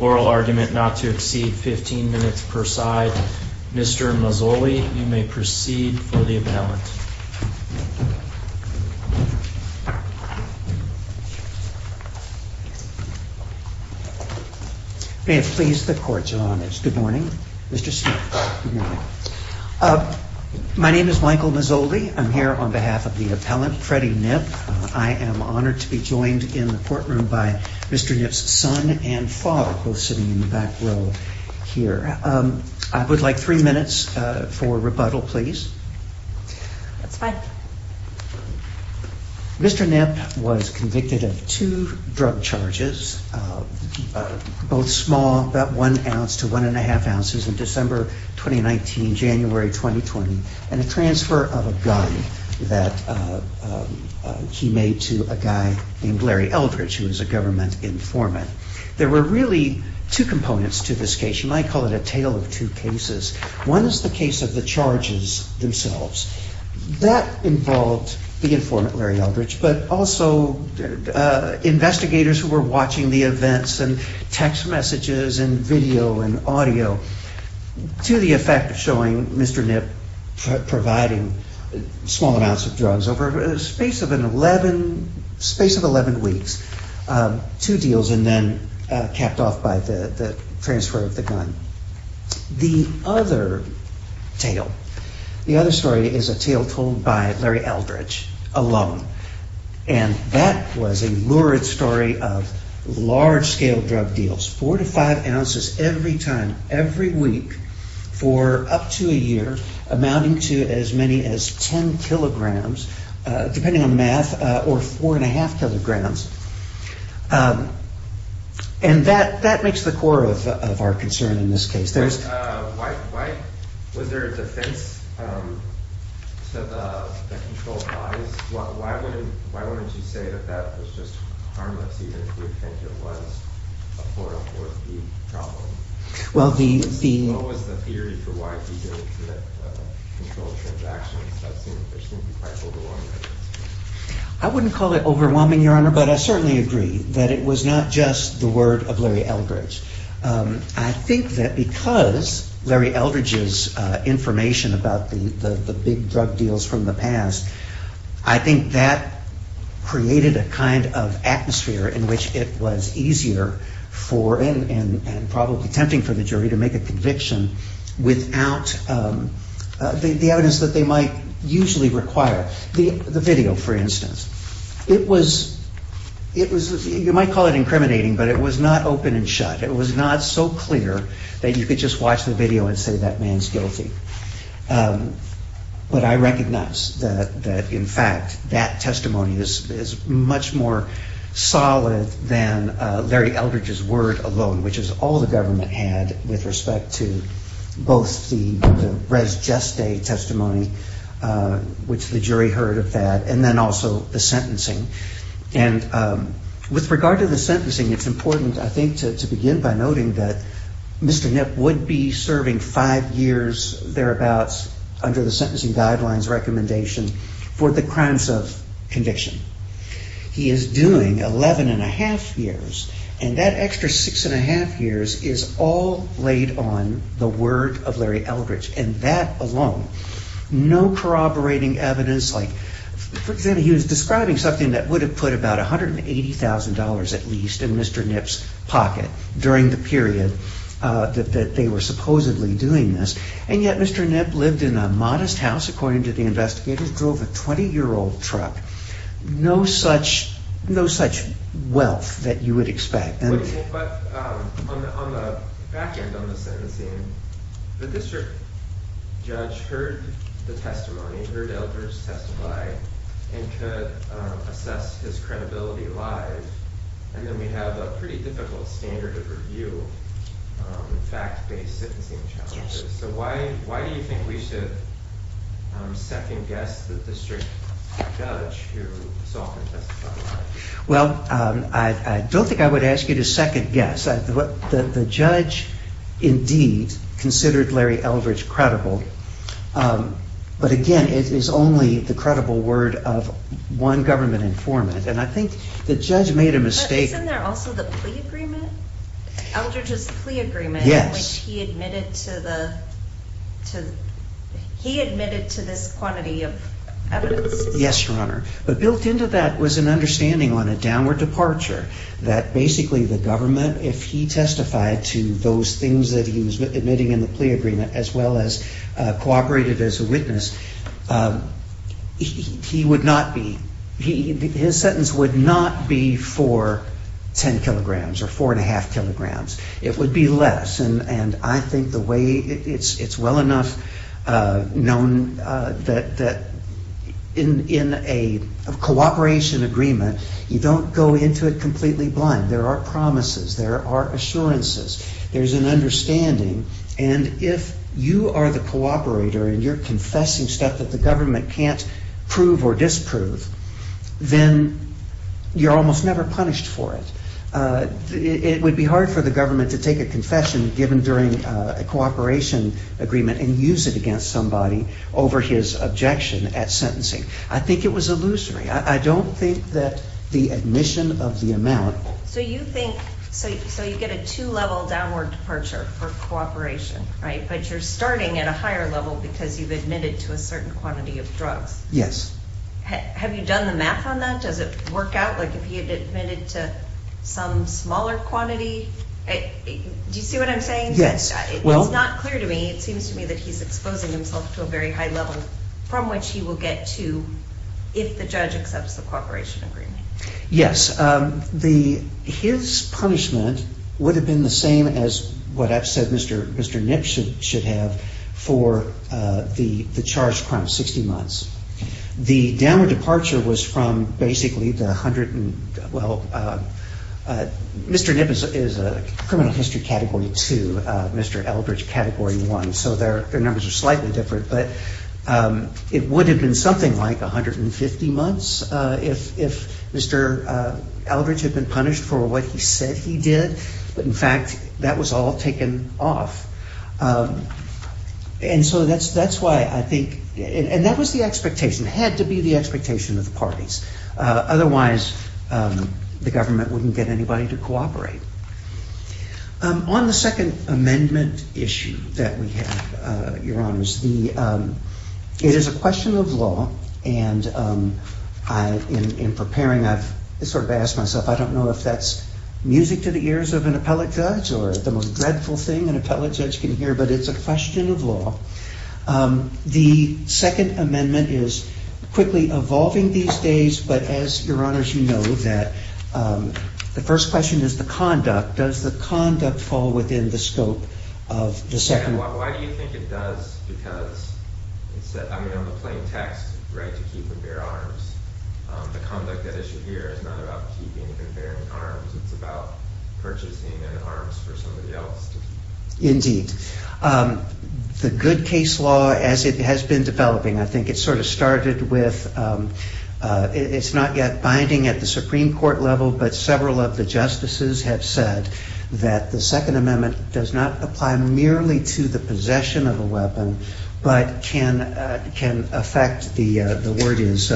Oral argument not to exceed 15 minutes per side. Mr. Mazzoli, you may proceed for the appellant. May it please the court's honors. Good morning, Mr. Smith. My name is Michael Mazzoli. I'm here on behalf of the appellant, Freddie Knipp. I am honored to be joined in the courtroom by Mr. Knipp's son and father, both sitting in the back row here. I would like three minutes for rebuttal, please. That's fine. Mr. Knipp was convicted of two drug charges, both small, about one ounce to one and a half ounces, in December 2019, January 2020, and a transfer of a gun that he made to a guy named Larry Eldridge, who was a government informant. There were really two components to this case. You might call it a tale of two cases. One is the case of the charges themselves. That involved the informant, Larry Eldridge, but also investigators who were watching the events and text messages and video and audio to the effect of showing Mr. Knipp providing small amounts of drugs over a space of 11 weeks. Two deals and then capped off by the transfer of the gun. The other tale is a tale told by Larry Eldridge alone. That was a lurid story of large-scale drug deals, four to five ounces every time, every week, for up to a year, amounting to as many as 10 kilograms, depending on math, or four and a half kilograms. And that makes the core of our concern in this case. Was there a defense to the controlled bodies? Why wouldn't you say that that was just harmless, even if you think it was a 404B problem? What was the theory for why people would commit controlled transactions? That seemed to be quite overwhelming. I wouldn't call it overwhelming, Your Honor, but I certainly agree that it was not just the word of Larry Eldridge. I think that because Larry Eldridge's information about the big drug deals from the past, I think that created a kind of atmosphere in which it was easier and probably tempting for the jury to make a conviction without the evidence that they might usually require. The video, for instance. It was, you might call it incriminating, but it was not open and shut. It was not so clear that you could just watch the video and say that man's guilty. But I recognize that, in fact, that testimony is much more solid than Larry Eldridge's word alone, which is all the government had with respect to both the res geste testimony, which the jury heard of that, and then also the sentencing. And with regard to the sentencing, it's important, I think, to begin by noting that Mr. Knipp would be serving five years, thereabouts, under the sentencing guidelines recommendation for the crimes of conviction. He is doing 11 1⁄2 years, and that extra 6 1⁄2 years is all laid on the word of Larry Eldridge, and that alone. No corroborating evidence. Like, for example, he was describing something that would have put about $180,000 at least in Mr. Knipp's pocket during the period that they were supposedly doing this. And yet Mr. Knipp lived in a modest house, according to the investigators, drove a 20-year-old truck. No such wealth that you would expect. But on the back end of the sentencing, the district judge heard the testimony, heard Eldridge testify, and could assess his credibility live. And then we have a pretty difficult standard of review of fact-based sentencing challenges. So why do you think we should second-guess the district judge who so often testifies live? Well, I don't think I would ask you to second-guess. The judge, indeed, considered Larry Eldridge credible. But again, it is only the credible word of one government informant, and I think the judge made a mistake. But isn't there also the plea agreement? Eldridge's plea agreement in which he admitted to this quantity of evidence? Yes, Your Honor. But built into that was an understanding on a downward departure that basically the government, if he testified to those things that he was admitting in the plea agreement as well as cooperated as a witness, his sentence would not be for 10 kilograms or 4.5 kilograms. It would be less. And I think it's well enough known that in a cooperation agreement, you don't go into it completely blind. There are promises. There are assurances. There's an understanding. And if you are the cooperator and you're confessing stuff that the government can't prove or disprove, then you're almost never punished for it. It would be hard for the government to take a confession given during a cooperation agreement and use it against somebody over his objection at sentencing. I think it was illusory. I don't think that the admission of the amount – So you think – so you get a two-level downward departure for cooperation, right? But you're starting at a higher level because you've admitted to a certain quantity of drugs. Yes. Have you done the math on that? Does it work out like if he had admitted to some smaller quantity? Do you see what I'm saying? It's not clear to me. It seems to me that he's exposing himself to a very high level from which he will get to if the judge accepts the cooperation agreement. Yes. His punishment would have been the same as what I've said Mr. Nip should have for the charged crime of 60 months. The downward departure was from basically the 100 – Well, Mr. Nip is a criminal history category 2, Mr. Eldridge category 1. So their numbers are slightly different. But it would have been something like 150 months if Mr. Eldridge had been punished for what he said he did. But in fact, that was all taken off. And so that's why I think – and that was the expectation. It had to be the expectation of the parties. Otherwise, the government wouldn't get anybody to cooperate. On the second amendment issue that we have, Your Honors, it is a question of law. And in preparing, I've sort of asked myself, I don't know if that's music to the ears of an appellate judge or the most dreadful thing an appellate judge can hear, but it's a question of law. The second amendment is quickly evolving these days. But as, Your Honors, you know that the first question is the conduct. Does the conduct fall within the scope of the second amendment? Why do you think it does? Because on the plain text, right, to keep and bear arms. The conduct at issue here is not about keeping and bearing arms. It's about purchasing an arm for somebody else. Indeed. The good case law as it has been developing, I think it sort of started with – it's not yet binding at the Supreme Court level, but several of the justices have said that the second amendment does not apply merely to the possession of a weapon, but can affect, the word is,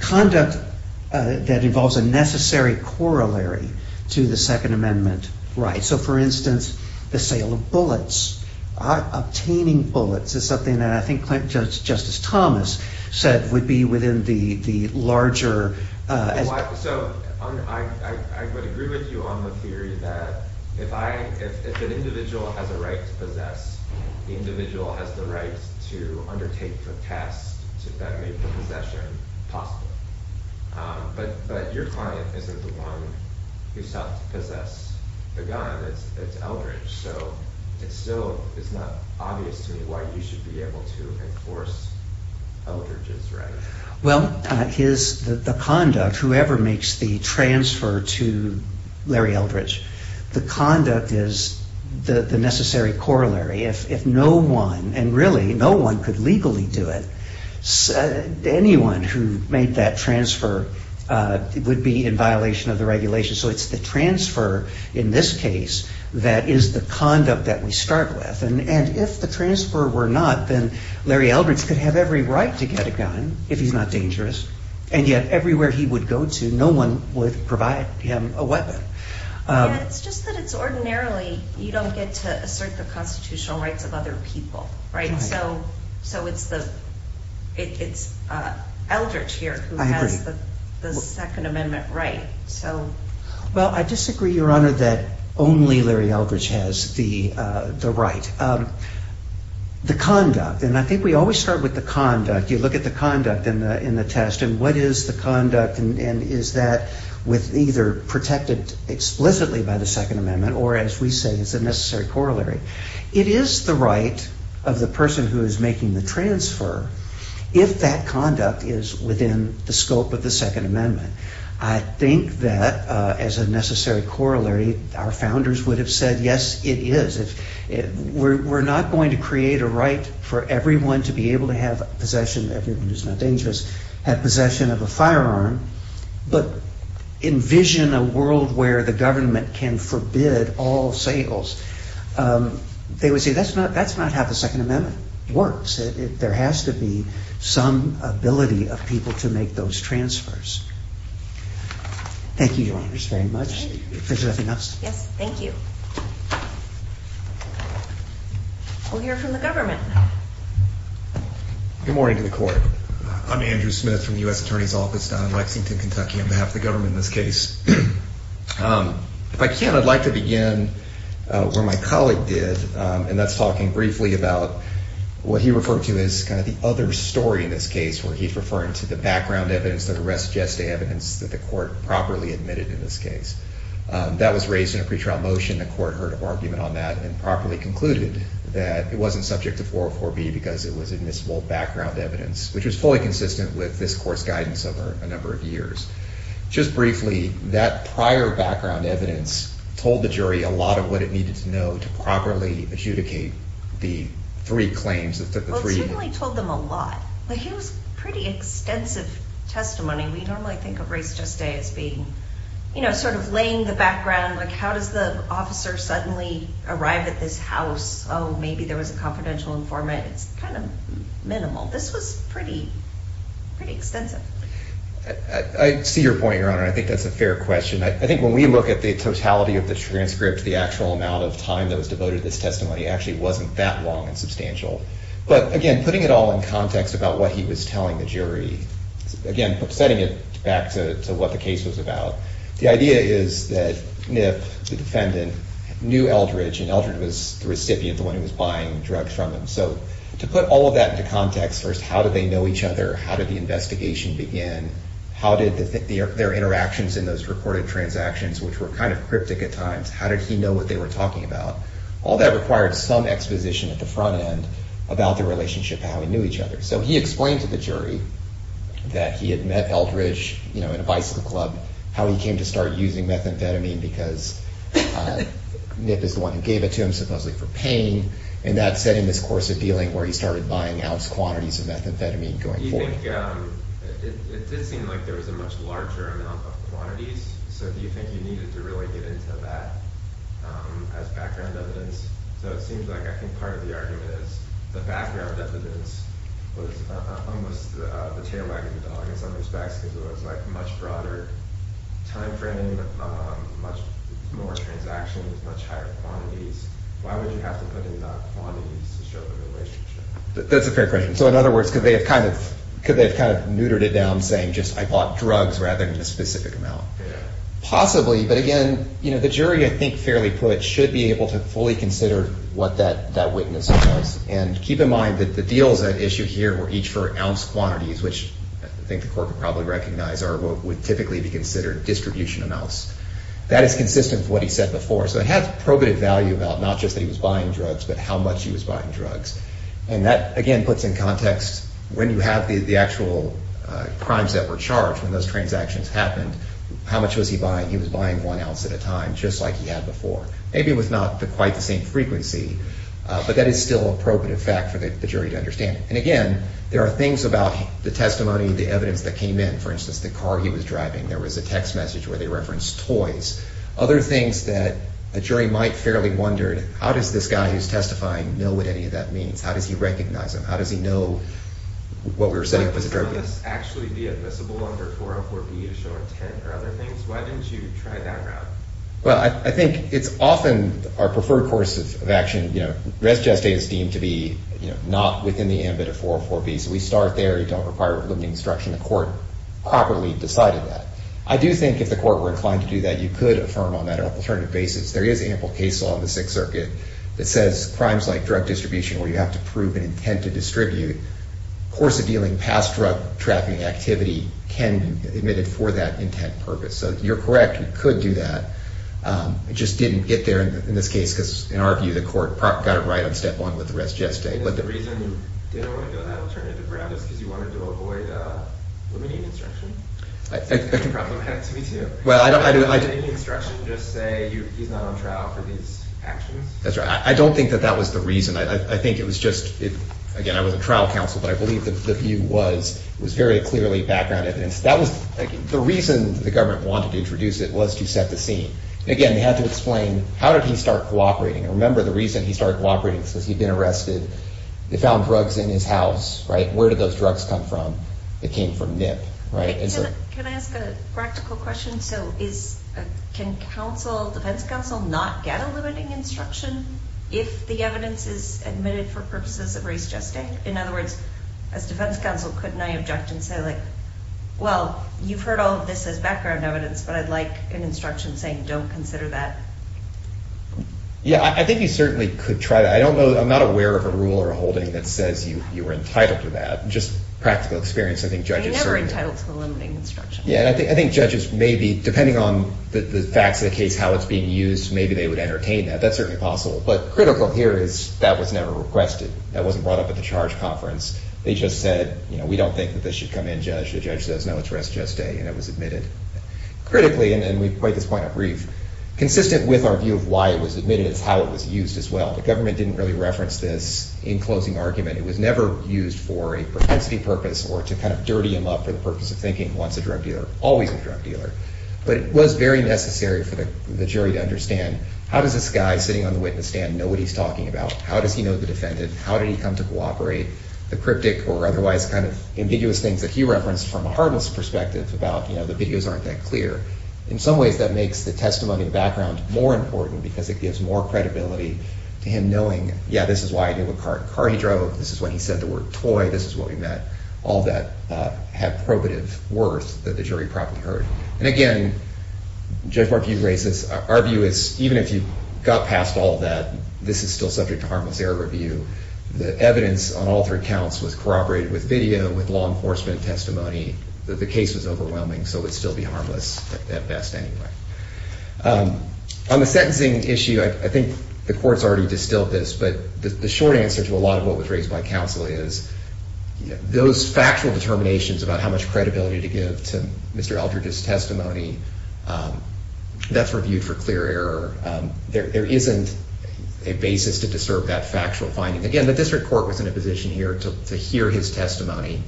conduct that involves a necessary corollary to the second amendment right. So, for instance, the sale of bullets, obtaining bullets is something that I think Justice Thomas said would be within the larger – So, I would agree with you on the theory that if an individual has a right to possess, the individual has the right to undertake the task that made the possession possible. But your client isn't the one who sought to possess the gun, it's Eldridge. So, it's still, it's not obvious to me why you should be able to enforce Eldridge's right. Well, his, the conduct, whoever makes the transfer to Larry Eldridge, the conduct is the necessary corollary. If no one, and really no one could legally do it, anyone who made that transfer would be in violation of the regulation. So, it's the transfer in this case that is the conduct that we start with. And if the transfer were not, then Larry Eldridge could have every right to get a gun, if he's not dangerous. And yet, everywhere he would go to, no one would provide him a weapon. It's just that it's ordinarily, you don't get to assert the constitutional rights of other people, right? So, it's Eldridge here who has the second amendment right. Well, I disagree, Your Honor, that only Larry Eldridge has the right. The conduct, and I think we always start with the conduct. You look at the conduct in the test, and what is the conduct, and is that with either protected explicitly by the second amendment, or as we say, it's a necessary corollary. It is the right of the person who is making the transfer, if that conduct is within the scope of the second amendment. I think that, as a necessary corollary, our founders would have said, yes, it is. We're not going to create a right for everyone to be able to have possession, everyone who's not dangerous, have possession of a firearm, but envision a world where the government can forbid all sales. They would say, that's not how the second amendment works. There has to be some ability of people to make those transfers. Thank you, Your Honors, very much. If there's nothing else. Yes, thank you. We'll hear from the government. Good morning to the court. I'm Andrew Smith from the U.S. Attorney's Office down in Lexington, Kentucky, on behalf of the government in this case. If I can, I'd like to begin where my colleague did, and that's talking briefly about what he referred to as kind of the other story in this case, where he's referring to the background evidence, the res geste evidence, that the court properly admitted in this case. That was raised in a pretrial motion. The court heard an argument on that and properly concluded that it wasn't subject to 404B because it was admissible background evidence, which was fully consistent with this court's guidance over a number of years. Just briefly, that prior background evidence told the jury a lot of what it needed to know to properly adjudicate the three claims. Well, it certainly told them a lot. Like, it was pretty extensive testimony. We normally think of res geste as being, you know, sort of laying the background. Like, how does the officer suddenly arrive at this house? Oh, maybe there was a confidential informant. It's kind of minimal. This was pretty extensive. I see your point, Your Honor. I think that's a fair question. I think when we look at the totality of the transcript, the actual amount of time that was devoted to this testimony actually wasn't that long and substantial. But, again, putting it all in context about what he was telling the jury, again, setting it back to what the case was about, the idea is that Niff, the defendant, knew Eldridge, and Eldridge was the recipient, the one who was buying drugs from him. So to put all of that into context, first, how did they know each other? How did the investigation begin? How did their interactions in those reported transactions, which were kind of cryptic at times, how did he know what they were talking about? All that required some exposition at the front end about their relationship, how they knew each other. So he explained to the jury that he had met Eldridge in a bicycle club, how he came to start using methamphetamine because Niff is the one who gave it to him, supposedly for pain, and that set in this course of dealing where he started buying ounce quantities of methamphetamine going forward. I think it did seem like there was a much larger amount of quantities, so do you think you needed to really get into that as background evidence? So it seems like I think part of the argument is the background evidence was almost the tail wagging the dog in some respects because it was a much broader time frame, much more transactions, much higher quantities. Why would you have to put in quantities to show the relationship? That's a fair question. So in other words, could they have kind of neutered it down saying just I bought drugs rather than a specific amount? Possibly, but again, the jury I think fairly put should be able to fully consider what that witness was. And keep in mind that the deals at issue here were each for ounce quantities, which I think the court would probably recognize are what would typically be considered distribution amounts. That is consistent with what he said before. So it had probative value about not just that he was buying drugs, but how much he was buying drugs. And that again puts in context when you have the actual crimes that were charged, when those transactions happened, how much was he buying? He was buying one ounce at a time just like he had before. Maybe it was not quite the same frequency, but that is still a probative fact for the jury to understand. And again, there are things about the testimony, the evidence that came in. For instance, the car he was driving, there was a text message where they referenced toys. Other things that a jury might fairly wonder, how does this guy who is testifying know what any of that means? How does he recognize him? How does he know what we were saying was a drug use? Would some of this actually be admissible under 404B to show intent or other things? Why didn't you try that route? Well, I think it's often our preferred course of action. Res geste is deemed to be not within the ambit of 404B. So we start there. You don't require limiting instruction. The court properly decided that. I do think if the court were inclined to do that, you could affirm on that alternative basis. There is ample case law in the Sixth Circuit that says crimes like drug distribution, where you have to prove an intent to distribute, course of dealing past drug trafficking activity can be admitted for that intent purpose. So you're correct. You could do that. It just didn't get there in this case, because in our view, the court got it right on step one with the res geste. But the reason you didn't want to go that alternative route is because you wanted to avoid limiting instruction. That's a good problem. It happens to me, too. Didn't the instruction just say he's not on trial for these actions? That's right. I don't think that that was the reason. I think it was just, again, I wasn't trial counsel, but I believe the view was it was very clearly background evidence. The reason the government wanted to introduce it was to set the scene. Again, they had to explain how did he start cooperating. I remember the reason he started cooperating was because he'd been arrested. They found drugs in his house. Where did those drugs come from? It came from NIP. Can I ask a practical question? Can defense counsel not get a limiting instruction if the evidence is admitted for purposes of res geste? In other words, as defense counsel, couldn't I object and say, well, you've heard all of this as background evidence, but I'd like an instruction saying don't consider that? Yeah, I think you certainly could try that. I'm not aware of a rule or a holding that says you are entitled to that. Just practical experience. You're never entitled to the limiting instruction. Yeah, I think judges may be, depending on the facts of the case, how it's being used, maybe they would entertain that. That's certainly possible. But critical here is that was never requested. That wasn't brought up at the charge conference. They just said we don't think that this should come in, Judge. The judge says no, it's res geste, and it was admitted. Critically, and we've made this point up brief, consistent with our view of why it was admitted, it's how it was used as well. The government didn't really reference this in closing argument. It was never used for a propensity purpose or to kind of dirty him up for the purpose of thinking he wants a drug dealer, always a drug dealer. But it was very necessary for the jury to understand how does this guy sitting on the witness stand know what he's talking about? How does he know the defendant? How did he come to cooperate? The cryptic or otherwise kind of ambiguous things that he referenced from a harmless perspective about the videos aren't that clear. In some ways, that makes the testimony and background more important because it gives more credibility to him knowing, yeah, this is why he did what car he drove. This is when he said the word toy. This is what we met. All that had probative worth that the jury probably heard. And again, Judge Markey's racist. Our view is even if you got past all of that, this is still subject to harmless error review. The evidence on all three counts was corroborated with video, with law enforcement testimony. The case was overwhelming, so it would still be harmless at best anyway. On the sentencing issue, I think the court's already distilled this, but the short answer to a lot of what was raised by counsel is those factual determinations about how much credibility to give to Mr. Eldridge's testimony, that's reviewed for clear error. There isn't a basis to disturb that factual finding. Again, the district court was in a position here to hear his testimony.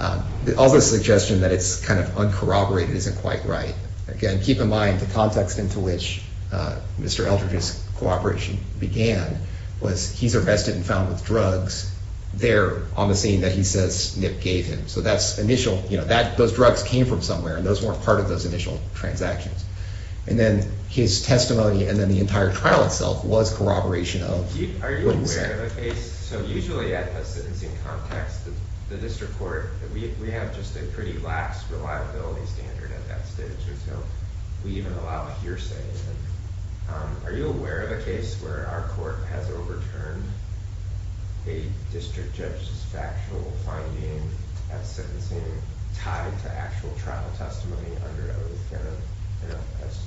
All the suggestion that it's kind of uncorroborated isn't quite right. Again, keep in mind the context into which Mr. Eldridge's cooperation began was he's arrested and found with drugs there on the scene that he says Nip gave him. So that's initial. Those drugs came from somewhere, and those weren't part of those initial transactions. And then his testimony and then the entire trial itself was corroboration of what he said. Are you aware of a case, so usually at a sentencing context, the district court, we have just a pretty lax reliability standard at that stage. We even allow hearsay. Are you aware of a case where our court has overturned a district judge's factual finding at sentencing tied to actual trial testimony under oath, as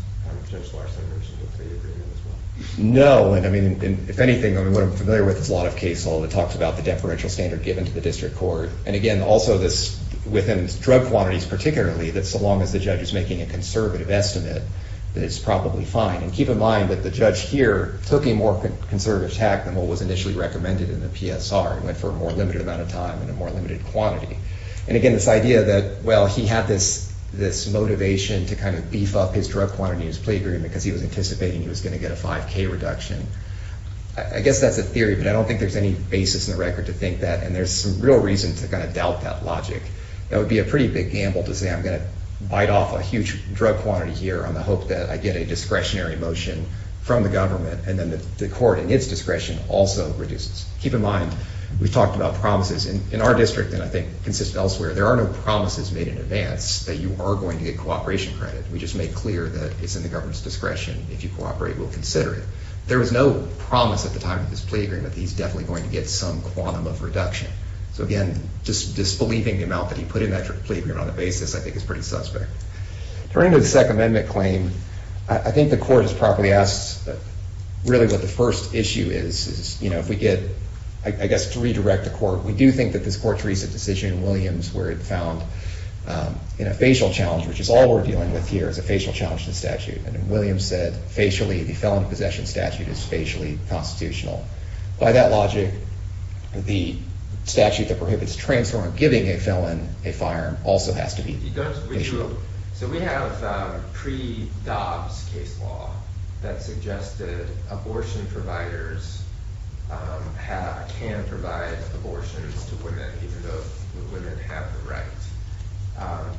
Judge Larson mentioned with the agreement as well? No. I mean, if anything, what I'm familiar with is a lot of cases that talk about the deferential standard given to the district court. And again, also within drug quantities particularly, that so long as the judge is making a conservative estimate that it's probably fine. And keep in mind that the judge here took a more conservative tact than what was initially recommended in the PSR and went for a more limited amount of time and a more limited quantity. And again, this idea that, well, he had this motivation to kind of beef up his drug quantity in his plea agreement because he was anticipating he was going to get a 5K reduction, I guess that's a theory, but I don't think there's any basis in the record to think that. And there's some real reason to kind of doubt that logic. That would be a pretty big gamble to say, I'm going to bite off a huge drug quantity here on the hope that I get a discretionary motion from the government and then the court, in its discretion, also reduces. Keep in mind, we've talked about promises. In our district, and I think consists elsewhere, there are no promises made in advance that you are going to get cooperation credit. We just make clear that it's in the government's discretion. If you cooperate, we'll consider it. There was no promise at the time of this plea agreement that he's definitely going to get some quantum of reduction. So again, just disbelieving the amount that he put in that plea agreement on the basis, I think is pretty suspect. Turning to the Second Amendment claim, I think the court has properly asked really what the first issue is. If we get, I guess, to redirect the court, we do think that this court's recent decision in Williams where it found in a facial challenge, which is all we're dealing with here is a facial challenge to the statute, and in Williams said, facially, the felon possession statute is facially constitutional. By that logic, the statute that prohibits transferring, giving a felon a firearm, also has to be facial. So we have pre-Dobbs case law that suggested abortion providers can provide abortions to women even though the women have the right.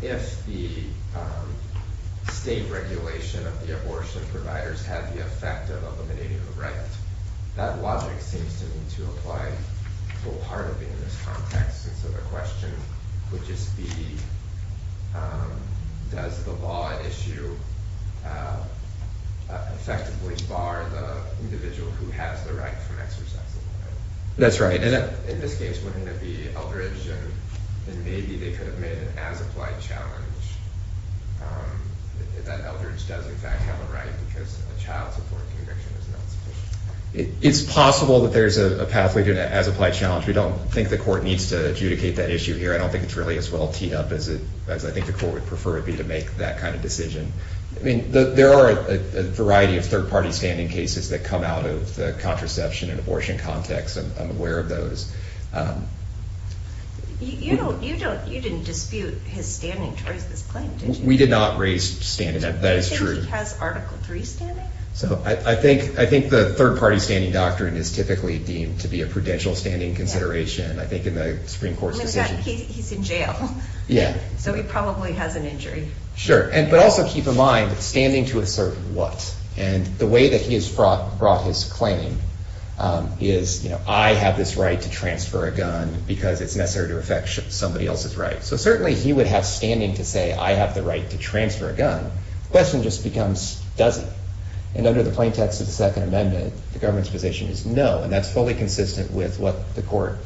If the state regulation of the abortion providers had the effect of eliminating the right, that logic seems to me to apply full heartedly in this context. So the question would just be, does the law issue effectively bar the individual who has the right from exercising the right? That's right. In this case, wouldn't it be Eldridge, and maybe they could have made an as-applied challenge that Eldridge does in fact have a right because a child's abortion conviction is not sufficient? It's possible that there's a pathway to an as-applied challenge. We don't think the court needs to adjudicate that issue here. I don't think it's really as well teed up as I think the court would prefer it be to make that kind of decision. There are a variety of third-party standing cases that come out of the contraception and abortion context. I'm aware of those. You didn't dispute his standing towards this claim, did you? We did not raise standing. That is true. Does he have Article III standing? I think the third-party standing doctrine is typically deemed to be a prudential standing consideration, I think, in the Supreme Court's decision. He's in jail. Yeah. So he probably has an injury. Sure. But also keep in mind, standing to assert what? And the way that he has brought his claim is, I have this right to transfer a gun because it's necessary to affect somebody else's right. So certainly he would have standing to say, I have the right to transfer a gun. The question just becomes, does he? And under the plain text of the Second Amendment, the government's position is no, and that's fully consistent with what the court,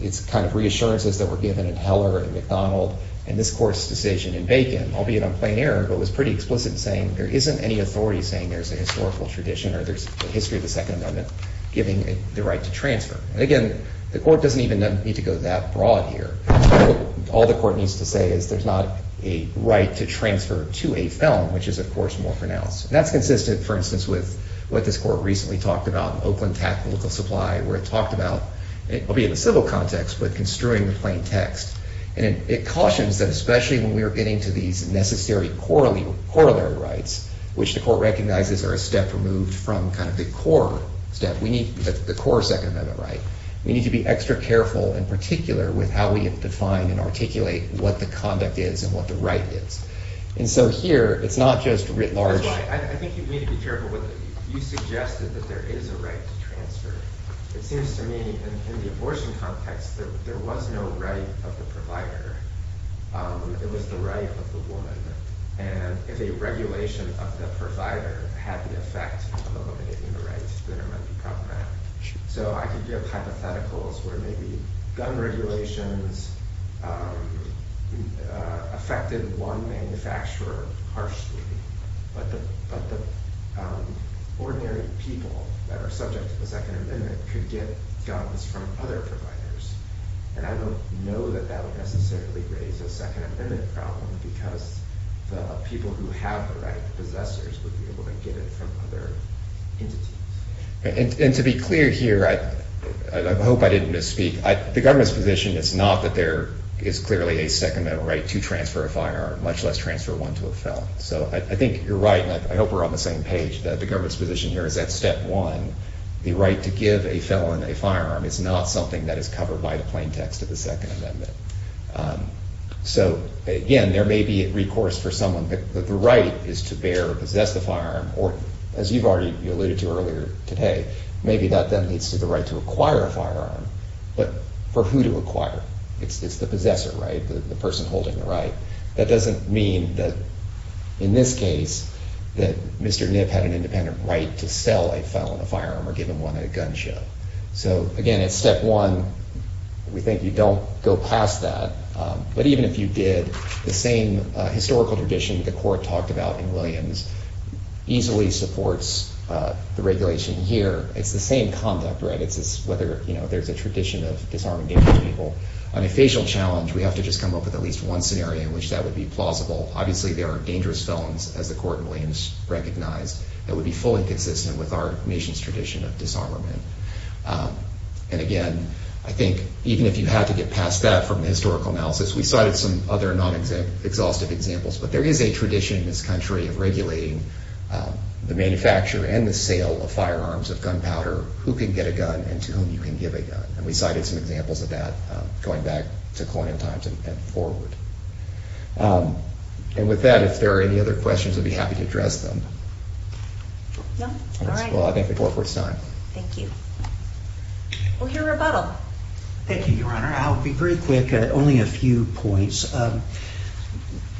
it's kind of reassurances that were given in Heller and McDonald and this court's decision in Bacon, albeit on plain error, but was pretty explicit in saying there isn't any authority saying there's a historical tradition or there's a history of the Second Amendment giving the right to transfer. And again, the court doesn't even need to go that broad here. All the court needs to say is there's not a right to transfer to a felon, which is, of course, more pronounced. And that's consistent, for instance, with what this court recently talked about, Oakland Tactical Supply, where it talked about, albeit in a civil context, but construing the plain text. And it cautions that especially when we are getting to these necessary corollary rights, which the court recognizes are a step removed from kind of the core step, the core Second Amendment right, we need to be extra careful, in particular, with how we define and articulate what the conduct is and what the right is. And so here, it's not just writ large. I think you need to be careful with it. You suggested that there is a right to transfer. It seems to me, in the abortion context, that there was no right of the provider. It was the right of the woman. And if a regulation of the provider had the effect of eliminating the right, then it might be problematic. So I could give hypotheticals where maybe gun regulations affected one manufacturer harshly, but the ordinary people that are subject to the Second Amendment could get guns from other providers. And I don't know that that would necessarily raise a Second Amendment problem, because the people who have the right to possess it would be able to get it from other entities. And to be clear here, I hope I didn't misspeak. The government's position is not that there is clearly a Second Amendment right to transfer a firearm, much less transfer one to a felon. So I think you're right, and I hope we're on the same page, that the government's position here is that, step one, the right to give a felon a firearm is not something that is covered by the plain text of the Second Amendment. So, again, there may be recourse for someone, but the right is to bear or possess the firearm, or, as you've already alluded to earlier today, maybe that then leads to the right to acquire a firearm. But for who to acquire? It's the possessor, right, the person holding the right. That doesn't mean that, in this case, that Mr. Nibb had an independent right to sell a felon a firearm or give him one at a gun show. So, again, it's step one. We think you don't go past that. But even if you did, the same historical tradition the court talked about in Williams easily supports the regulation here. It's the same conduct, right? It's whether there's a tradition of disarming dangerous people. On a facial challenge, we have to just come up with at least one scenario in which that would be plausible. Obviously, there are dangerous felons, as the court in Williams recognized, that would be fully consistent with our nation's tradition of disarmament. And, again, I think even if you had to get past that from the historical analysis, we cited some other non-exhaustive examples, but there is a tradition in this country of regulating the manufacture and the sale of firearms, of gunpowder, who can get a gun and to whom you can give a gun. And we cited some examples of that going back to colonial times and forward. And with that, if there are any other questions, I'd be happy to address them. No? All right. Well, I thank the court for its time. Thank you. We'll hear rebuttal. Thank you, Your Honor. I'll be very quick, only a few points.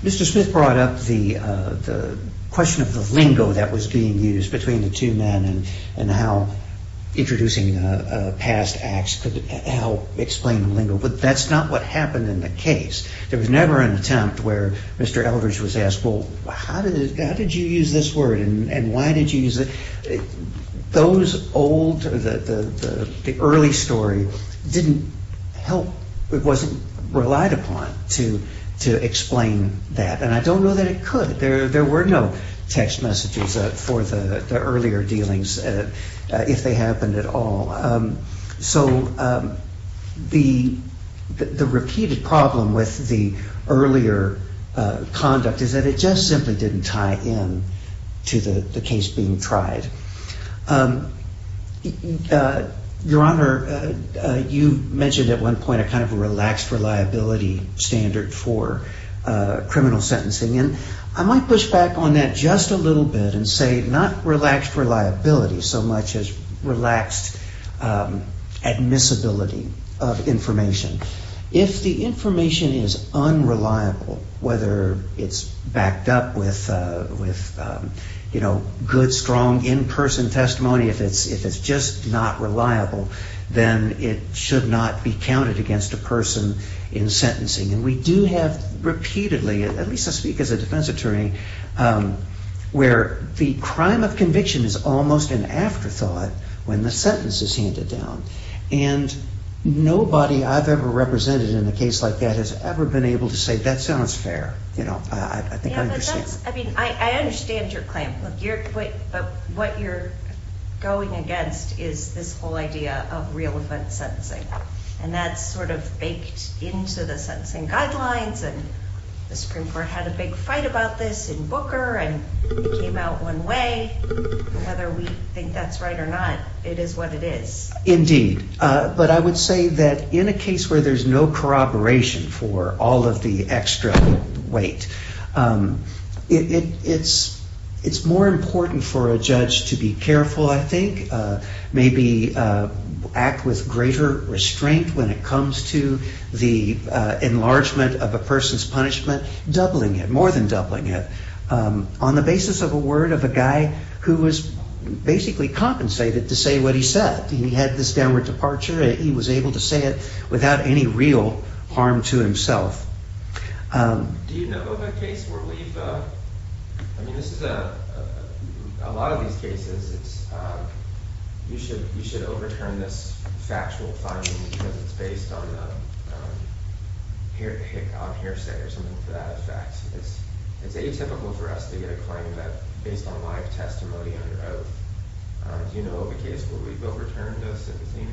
Mr. Smith brought up the question of the lingo that was being used between the two men and how introducing past acts could help explain the lingo, but that's not what happened in the case. There was never an attempt where Mr. Eldridge was asked, well, how did you use this word and why did you use it? Those old, the early story, didn't help. It wasn't relied upon to explain that. And I don't know that it could. There were no text messages for the earlier dealings if they happened at all. So the repeated problem with the earlier conduct is that it just simply didn't tie in to the case being tried. Your Honor, you mentioned at one point a kind of relaxed reliability standard for criminal sentencing. And I might push back on that just a little bit and say not relaxed reliability so much as relaxed admissibility of information. If the information is unreliable, whether it's backed up with good, strong in-person testimony, if it's just not reliable, then it should not be counted against a person in sentencing. And we do have repeatedly, at least I speak as a defense attorney, where the crime of conviction is almost an afterthought when the sentence is handed down. And nobody I've ever represented in a case like that has ever been able to say, that sounds fair, you know, I think I understand. Yeah, but that's, I mean, I understand your claim. But what you're going against is this whole idea of real-event sentencing. And that's sort of baked into the sentencing guidelines and the Supreme Court had a big fight about this in Booker and it came out one way. Whether we think that's right or not, it is what it is. Indeed. But I would say that in a case where there's no corroboration for all of the extra weight, it's more important for a judge to be careful, I think, maybe act with greater restraint when it comes to the enlargement of a person's punishment, doubling it, more than doubling it, on the basis of a word of a guy who was basically compensated to say what he said. He had this downward departure, he was able to say it without any real harm to himself. Do you know of a case where we've, I mean, this is, a lot of these cases, you should overturn this factual finding because it's based on hearsay or something to that effect. It's atypical for us to get a claim based on live testimony under oath. Do you know of a case where we've overturned a sentencing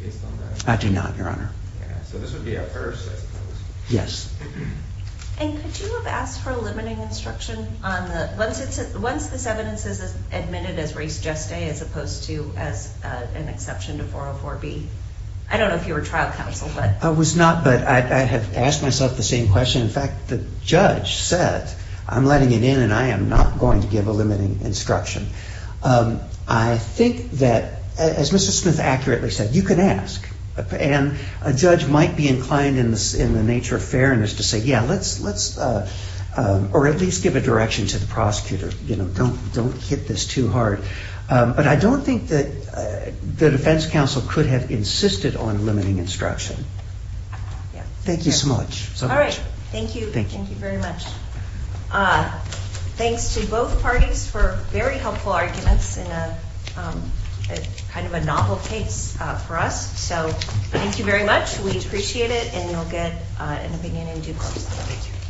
based on that? I do not, Your Honor. So this would be a first? Yes. And could you have asked for a limiting instruction once this evidence is admitted as res geste as opposed to as an exception to 404B? I don't know if you were trial counsel, but... I was not, but I have asked myself the same question. In fact, the judge said, I'm letting it in and I am not going to give a limiting instruction. I think that, as Mr. Smith accurately said, you can ask. And a judge might be inclined in the nature of fairness to say, yeah, let's... or at least give a direction to the prosecutor. Don't hit this too hard. But I don't think that the defense counsel could have insisted on limiting instruction. Thank you so much. All right, thank you. Thank you very much. Thanks to both parties for very helpful arguments in kind of a novel case for us. So thank you very much. We appreciate it, and you'll get an opinion in due course.